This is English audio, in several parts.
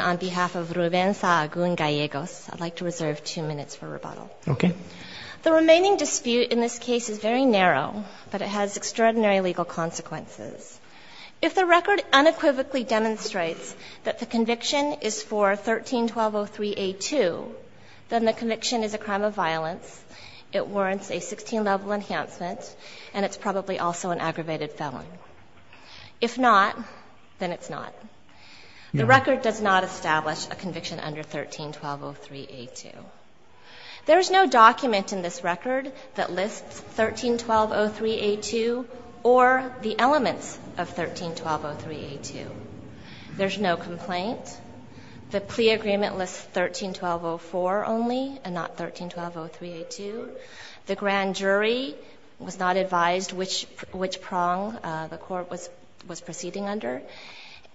on behalf of Ruben Sahagun-Gallegos. I'd like to reserve two minutes for rebuttal. The remaining dispute in this case is very narrow, but it has extraordinary legal consequences. If the record unequivocally demonstrates that the conviction is for 13-1203a2, then the conviction is a crime of violence, it warrants a 16-level enhancement, and it's probably also an aggravated felon. If not, then it's not. The record does not establish a conviction under 13-1203a2. There is no document in this record that lists 13-1203a2 or the elements of 13-1203a2. There's no complaint. The plea agreement lists 13-1204 only and not 13-1203a2. The grand jury was not advised which prong the Court was proceeding under.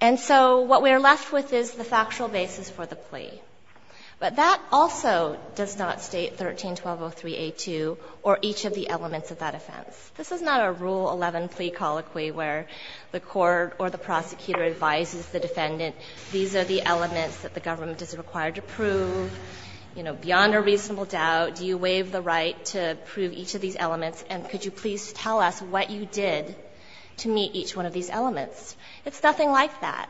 And so what we are left with is the factual basis for the plea. But that also does not state 13-1203a2 or each of the elements of that offense. This is not a Rule 11 plea colloquy where the court or the prosecutor advises the defendant, these are the elements that the government is required to prove, you know, beyond a reasonable doubt, do you waive the right to prove each of these elements, and could you please tell us what you did to meet each one of these elements. It's nothing like that.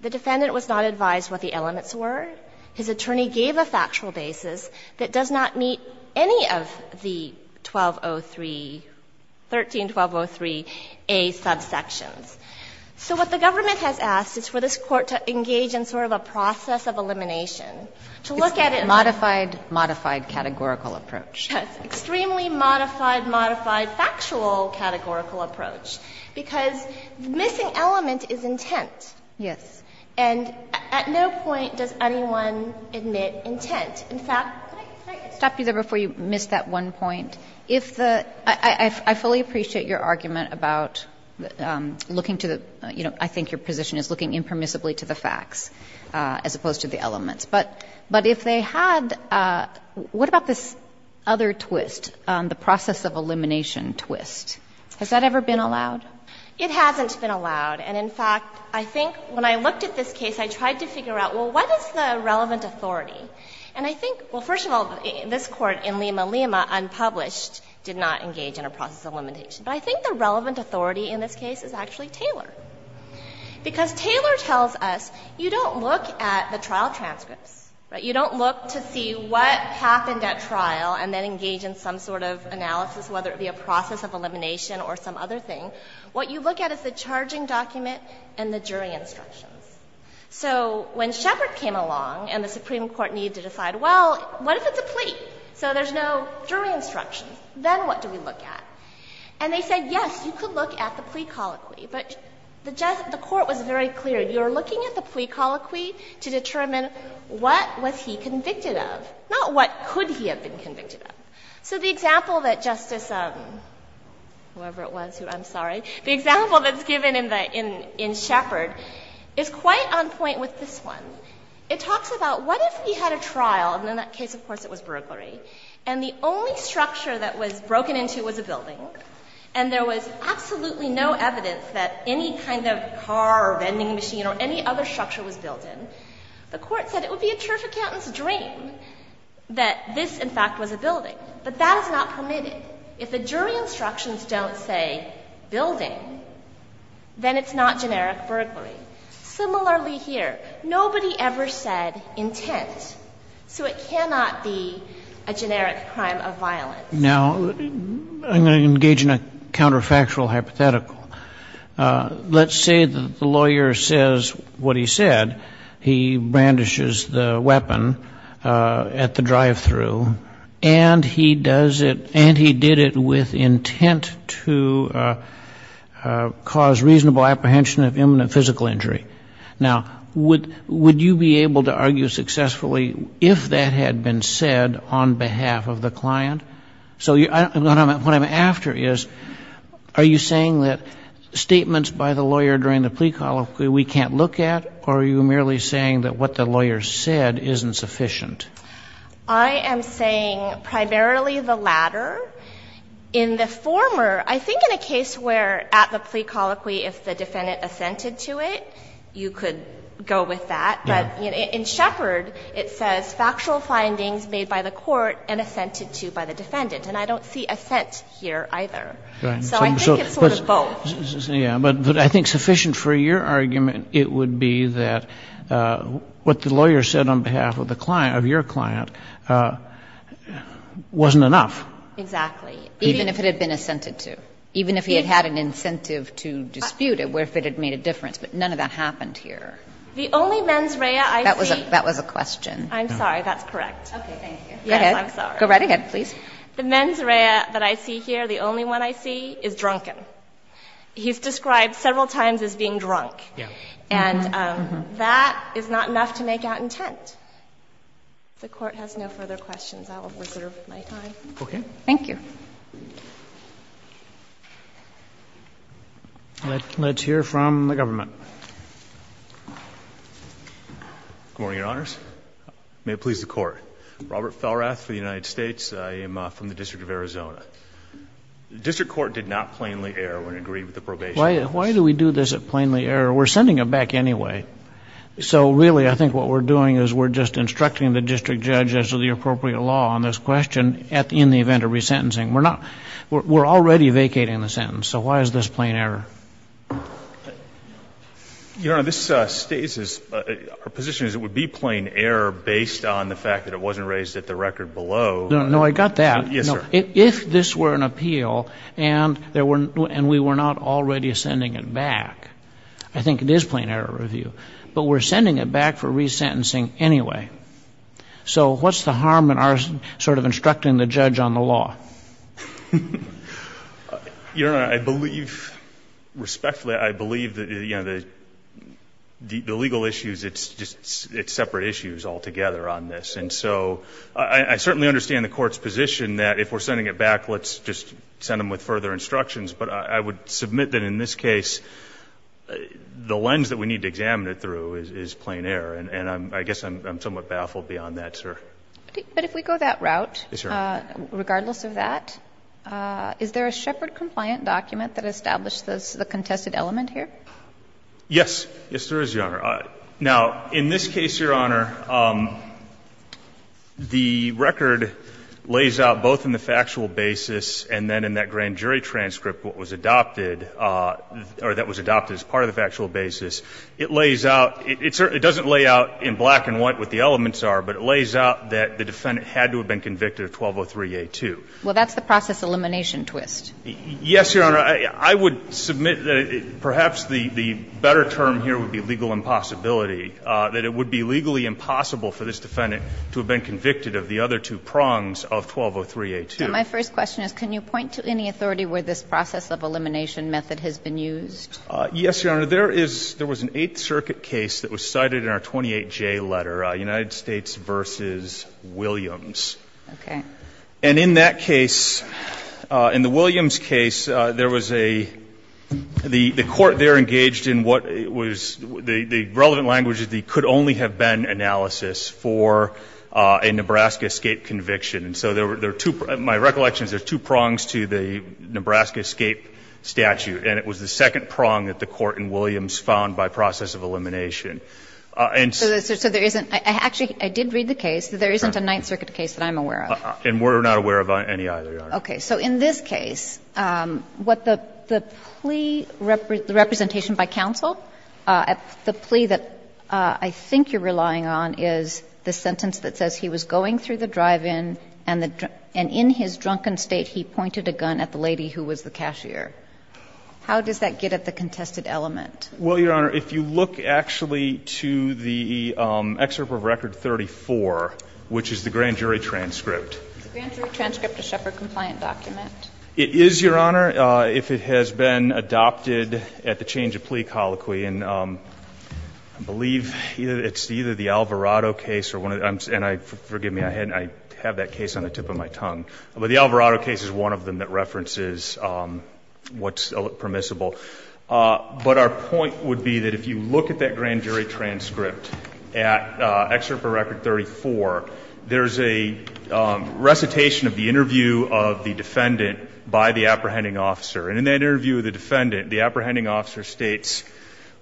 The defendant was not advised what the elements were. His attorney gave a factual basis that does not meet any of the 1203, 13-1203a subsections. So what the government has asked is for this Court to engage in sort of a process of elimination, to look at it as a modified categorical approach. Yes, extremely modified, modified factual categorical approach, because the missing element is intent. Yes. And at no point does anyone admit intent. In fact, can I stop you there before you miss that one point? If the – I fully appreciate your argument about looking to the, you know, I think your position is looking impermissibly to the facts as opposed to the elements. But if they had – what about this other twist, the process of elimination twist? Has that ever been allowed? It hasn't been allowed. And in fact, I think when I looked at this case, I tried to figure out, well, what is the relevant authority? And I think – well, first of all, this Court in Lima, Lima, unpublished, did not engage in a process of elimination. But I think the relevant authority in this case is actually Taylor. Because Taylor tells us you don't look at the trial transcripts, right? You don't look to see what happened at trial and then engage in some sort of analysis, whether it be a process of elimination or some other thing. What you look at is the charging document and the jury instructions. So when Shepard came along and the Supreme Court needed to decide, well, what if it's a plea? So there's no jury instructions. Then what do we look at? And they said, yes, you could look at the plea colloquy. But the court was very clear. You're looking at the plea colloquy to determine what was he convicted of, not what could he have been convicted of. So the example that Justice – whoever it was who – I'm sorry. The example that's given in Shepard is quite on point with this one. It talks about what if he had a trial, and in that case, of course, it was burglary, and the only structure that was broken into was a building, and there was absolutely no evidence that any kind of car or vending machine or any other structure was built in. The court said it would be a turf accountant's dream that this, in fact, was a building. But that is not permitted. If the jury instructions don't say building, then it's not generic burglary. Similarly here. Nobody ever said intent. So it cannot be a generic crime of violence. Now, I'm going to engage in a counterfactual hypothetical. Let's say that the lawyer says what he said. He brandishes the weapon at the drive-through, and he does it – and he did it with intent to cause reasonable apprehension of imminent physical injury. Now, would you be able to argue successfully if that had been said on behalf of the client? So what I'm after is, are you saying that statements by the lawyer during the plea colloquy we can't look at, or are you merely saying that what the lawyer said isn't sufficient? I am saying primarily the latter. In the former, I think in a case where at the plea colloquy, if the defendant assented to it, you could go with that. But in Shepard, it says factual findings made by the court and assented to by the defendant, and I don't see assent here either. So I think it's sort of both. But I think sufficient for your argument, it would be that what the lawyer said on behalf of the client, of your client, wasn't enough. Exactly. Even if it had been assented to. Even if he had had an incentive to dispute it, where if it had made a difference. But none of that happened here. The only mens rea I see – That was a question. I'm sorry. That's correct. Okay. Yes, I'm sorry. Go right ahead, please. The mens rea that I see here, the only one I see, is drunken. He's described several times as being drunk. And that is not enough to make out intent. If the Court has no further questions, I will reserve my time. Okay. Let's hear from the government. Good morning, Your Honors. May it please the Court. Robert Falrath for the United States. I am from the District of Arizona. The District Court did not plainly err when it agreed with the probation. Why do we do this at plainly error? We're sending it back anyway. So, really, I think what we're doing is we're just instructing the District Judge as to the appropriate law on this question in the event of resentencing. We're already vacating the sentence, so why is this plain error? Your Honor, this states, our position is it would be plain error based on the fact that it wasn't raised at the record below. No, I got that. Yes, sir. If this were an appeal and we were not already sending it back, I think it is plain error review. But we're sending it back for resentencing anyway. So what's the harm in our sort of instructing the judge on the law? Your Honor, I believe, respectfully, I believe that, you know, the legal issues, it's just separate issues altogether on this. And so I certainly understand the Court's position that if we're sending it back, let's just send them with further instructions. But I would submit that in this case, the lens that we need to examine it through is plain error. And I guess I'm somewhat baffled beyond that, sir. But if we go that route, regardless of that, is there a Shepard-compliant document that established the contested element here? Yes. Yes, there is, Your Honor. Now, in this case, Your Honor, the record lays out both in the factual basis and then in that grand jury transcript what was adopted or that was adopted as part of the factual basis. It lays out – it doesn't lay out in black and white what the elements are, but it lays out that the defendant had to have been convicted of 1203a2. Well, that's the process elimination twist. Yes, Your Honor. I would submit that perhaps the better term here would be legal impossibility, that it would be legally impossible for this defendant to have been convicted of the other two prongs of 1203a2. And my first question is, can you point to any authority where this process of elimination method has been used? Yes, Your Honor. There is – there was an Eighth Circuit case that was cited in our 28J letter, United States v. Williams. Okay. And in that case, in the Williams case, there was a – the court there engaged in what was – the relevant language is the could-only-have-been analysis for a Nebraska-escape conviction. And so there were two – my recollection is there's two prongs to the Nebraska-escape statute, and it was the second prong that the court in Williams found by process of elimination. And so there isn't – actually, I did read the case. There isn't a Ninth Circuit case that I'm aware of. And we're not aware of any either, Your Honor. Okay. So in this case, what the plea representation by counsel, the plea that I think you're relying on is the sentence that says he was going through the drive-in and in his drunken state he pointed a gun at the lady who was the cashier. How does that get at the contested element? Well, Your Honor, if you look actually to the excerpt of Record 34, which is the grand jury transcript. Is the grand jury transcript a Shepard-compliant document? It is, Your Honor, if it has been adopted at the change of plea colloquy. And I believe it's either the Alvarado case or one of the – and I – forgive me, I have that case on the tip of my tongue. But the Alvarado case is one of them that references what's permissible. But our point would be that if you look at that grand jury transcript at excerpt for Record 34, there's a recitation of the interview of the defendant by the apprehending officer. And in that interview of the defendant, the apprehending officer states,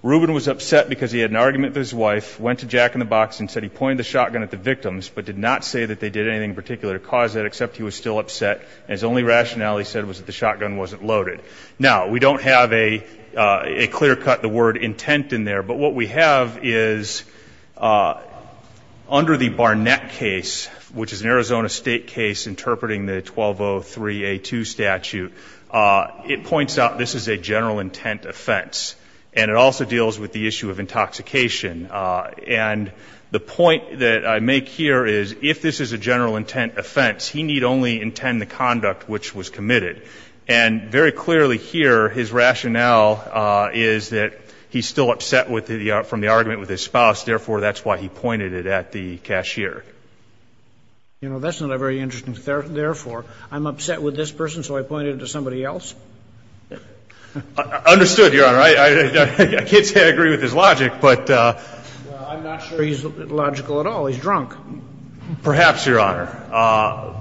Rubin was upset because he had an argument with his wife, went to Jack in the Box and said he would not say that they did anything in particular to cause that, except he was still upset. And his only rationale, he said, was that the shotgun wasn't loaded. Now, we don't have a clear cut, the word intent in there. But what we have is under the Barnett case, which is an Arizona State case interpreting the 1203A2 statute, it points out this is a general intent offense. And it also deals with the issue of intoxication. And the point that I make here is if this is a general intent offense, he need only intend the conduct which was committed. And very clearly here, his rationale is that he's still upset from the argument with his spouse. Therefore, that's why he pointed it at the cashier. You know, that's not a very interesting therefore. I'm upset with this person, so I pointed it to somebody else? Understood, Your Honor. I can't say I agree with his logic. Well, I'm not sure he's logical at all. He's drunk. Perhaps, Your Honor.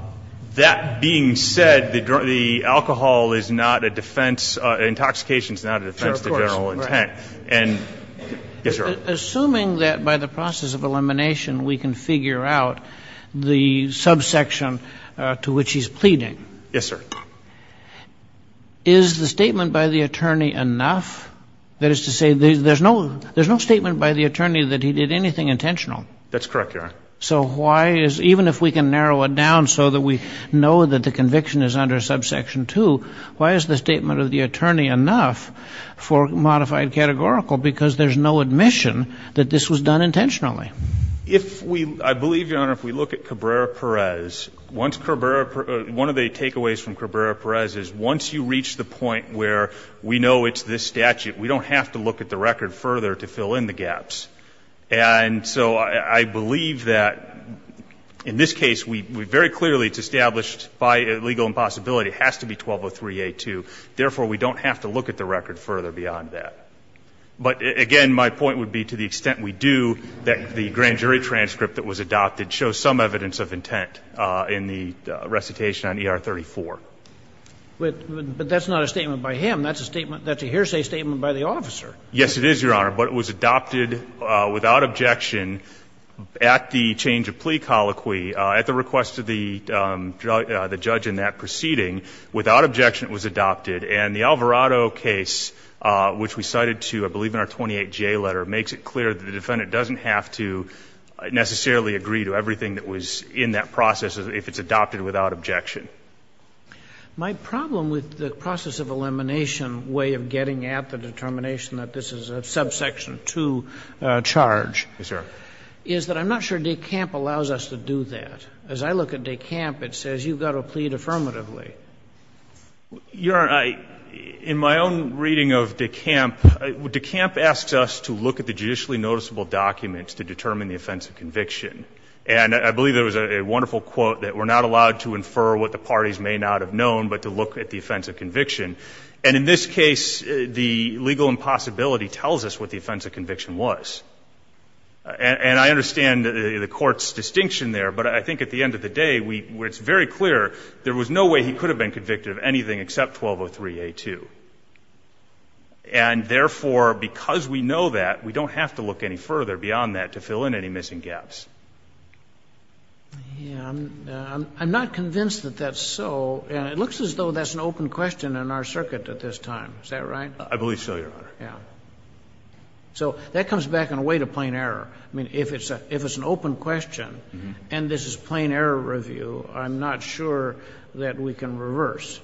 That being said, the alcohol is not a defense. Intoxication is not a defense to general intent. Assuming that by the process of elimination, we can figure out the subsection to which he's pleading. Yes, sir. Is the statement by the attorney enough? That is to say, there's no statement by the attorney that he did anything intentional. That's correct, Your Honor. So why is, even if we can narrow it down so that we know that the conviction is under subsection 2, why is the statement of the attorney enough for modified categorical? Because there's no admission that this was done intentionally. If we, I believe, Your Honor, if we look at Cabrera-Perez, once Cabrera, one of the statutes, we don't have to look at the record further to fill in the gaps. And so I believe that in this case, we very clearly, it's established by legal impossibility it has to be 1203A2. Therefore, we don't have to look at the record further beyond that. But, again, my point would be to the extent we do, that the grand jury transcript that was adopted shows some evidence of intent in the recitation on ER34. But that's not a statement by him. That's a statement, that's a hearsay statement by the officer. Yes, it is, Your Honor. But it was adopted without objection at the change of plea colloquy, at the request of the judge in that proceeding. Without objection, it was adopted. And the Alvarado case, which we cited to, I believe, in our 28J letter, makes it clear that the defendant doesn't have to necessarily agree to everything that was in that process if it's adopted without objection. My problem with the process of elimination way of getting at the determination that this is a Subsection 2 charge is that I'm not sure DeCamp allows us to do that. As I look at DeCamp, it says you've got to plead affirmatively. Your Honor, in my own reading of DeCamp, DeCamp asks us to look at the judicially noticeable documents to determine the offense of conviction. And I believe there was a wonderful quote that we're not allowed to infer what the parties may not have known, but to look at the offense of conviction. And in this case, the legal impossibility tells us what the offense of conviction was. And I understand the Court's distinction there, but I think at the end of the day, it's very clear there was no way he could have been convicted of anything except 1203A2. And therefore, because we know that, we don't have to look any further beyond that to fill in any missing gaps. Yeah. I'm not convinced that that's so. And it looks as though that's an open question in our circuit at this time. Is that right? I believe so, Your Honor. Yeah. So that comes back in a way to plain error. I mean, if it's an open question and this is plain error review, I'm not sure that we can reverse.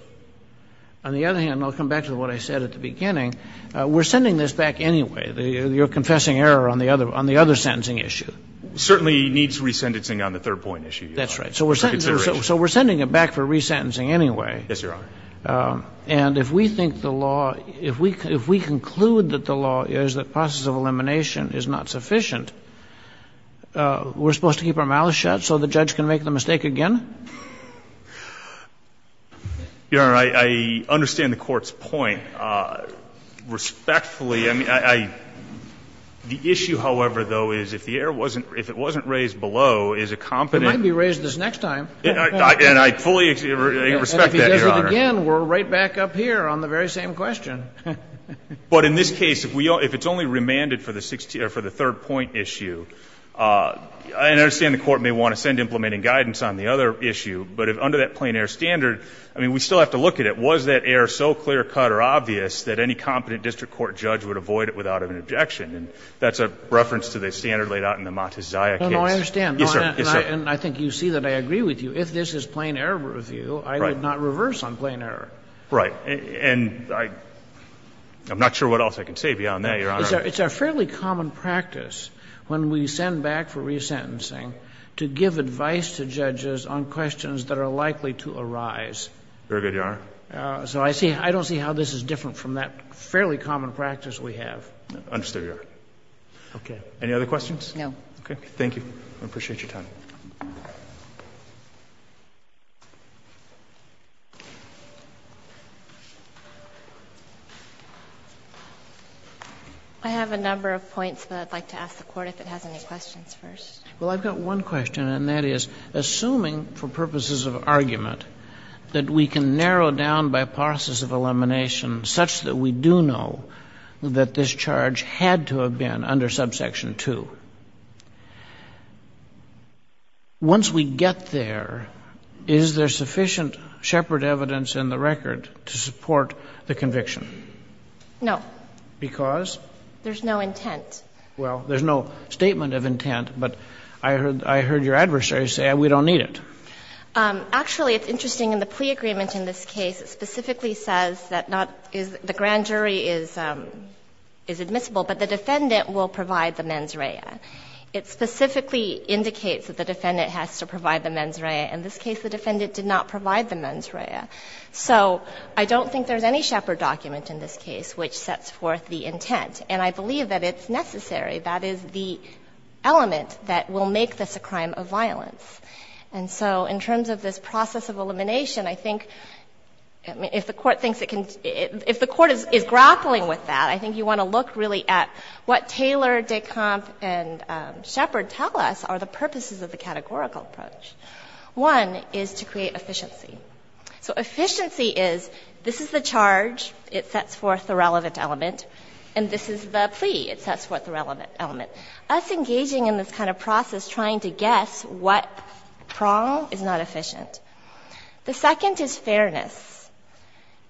On the other hand, I'll come back to what I said at the beginning, we're sending this back anyway. You're confessing error on the other sentencing issue. It certainly needs resentencing on the third point issue, Your Honor. That's right. So we're sending it back for resentencing anyway. Yes, Your Honor. And if we think the law, if we conclude that the law is that process of elimination is not sufficient, we're supposed to keep our mouths shut so the judge can make the mistake again? Your Honor, I understand the Court's point. Respectfully, I mean, the issue, however, though, is if the error wasn't, if it wasn't raised below, is a competent. It might be raised this next time. And I fully respect that, Your Honor. And if he does it again, we're right back up here on the very same question. But in this case, if it's only remanded for the third point issue, I understand the Court may want to send implementing guidance on the other issue, but under that plain error standard, I mean, we still have to look at it. I mean, the standards are so clear-cut or obvious that any competent district court judge would avoid it without an objection. And that's a reference to the standard laid out in the Montezaya case. No, no, I understand. Yes, sir. Yes, sir. And I think you see that I agree with you. If this is plain error review, I would not reverse on plain error. Right. And I'm not sure what else I can say beyond that, Your Honor. It's a fairly common practice when we send back for resentencing to give advice to judges on questions that are likely to arise. Very good, Your Honor. So I don't see how this is different from that fairly common practice we have. Understood, Your Honor. Okay. Any other questions? No. Okay. Thank you. I appreciate your time. I have a number of points, but I'd like to ask the Court if it has any questions first. Well, I've got one question, and that is, assuming for purposes of argument that we can narrow down by process of elimination such that we do know that this charge had to have been under subsection 2, once we get there, is there sufficient shepherd evidence in the record to support the conviction? No. Because? There's no intent. Well, there's no statement of intent, but I heard your adversary say we don't need Actually, it's interesting. In the plea agreement in this case, it specifically says that the grand jury is admissible, but the defendant will provide the mens rea. It specifically indicates that the defendant has to provide the mens rea. In this case, the defendant did not provide the mens rea. So I don't think there's any shepherd document in this case which sets forth the intent. And I believe that it's necessary. That is the element that will make this a crime of violence. And so in terms of this process of elimination, I think if the court thinks it can If the court is grappling with that, I think you want to look really at what Taylor, Descamp, and Shepherd tell us are the purposes of the categorical approach. One is to create efficiency. So efficiency is, this is the charge. It sets forth the relevant element. And this is the plea. It sets forth the relevant element. Us engaging in this kind of process, trying to guess what prong is not efficient. The second is fairness.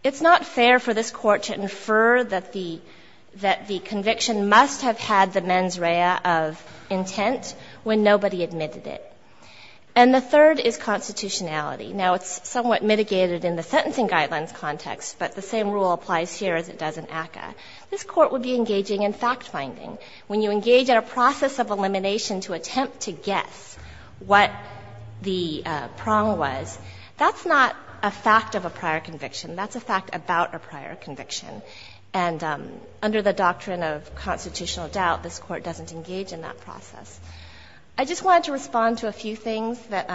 It's not fair for this Court to infer that the conviction must have had the mens rea of intent when nobody admitted it. And the third is constitutionality. Now, it's somewhat mitigated in the sentencing guidelines context, but the same rule applies here as it does in ACCA. This Court would be engaging in fact-finding. When you engage in a process of elimination to attempt to guess what the prong was, that's not a fact of a prior conviction. That's a fact about a prior conviction. And under the doctrine of constitutional doubt, this Court doesn't engage in that process. I just wanted to respond to a few things that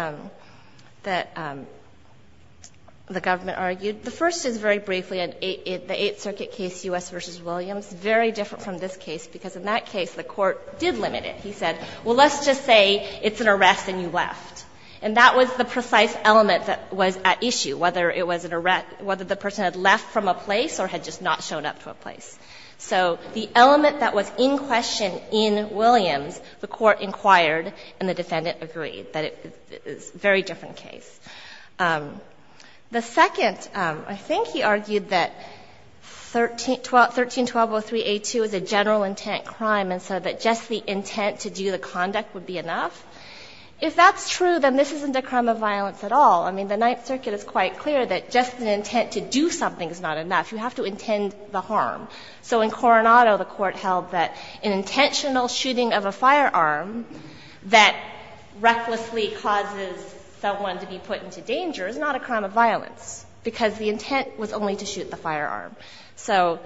the government argued. The first is, very briefly, the Eighth Circuit case, U.S. v. Williams, very different from this case, because in that case the Court did limit it. He said, well, let's just say it's an arrest and you left. And that was the precise element that was at issue, whether it was an arrest, whether the person had left from a place or had just not shown up to a place. So the element that was in question in Williams, the Court inquired and the defendant agreed, that it's a very different case. The second, I think he argued that 13-1203a2 is a general intent crime and so that just the intent to do the conduct would be enough. If that's true, then this isn't a crime of violence at all. I mean, the Ninth Circuit is quite clear that just the intent to do something is not enough. You have to intend the harm. So in Coronado, the Court held that an intentional shooting of a firearm that recklessly causes someone to be put into danger is not a crime of violence, because the intent was only to shoot the firearm. So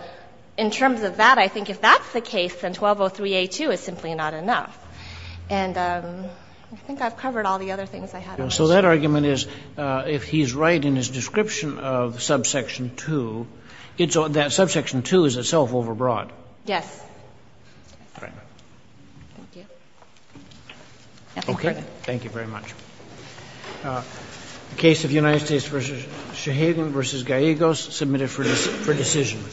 in terms of that, I think if that's the case, then 1203a2 is simply not enough. And I think I've covered all the other things I had on this. So that argument is, if he's right in his description of subsection 2, that subsection 2 is itself overbroad. Yes. All right. Thank you. Okay. Thank you very much. The case of United States v. Shaheen v. Gallegos submitted for decision.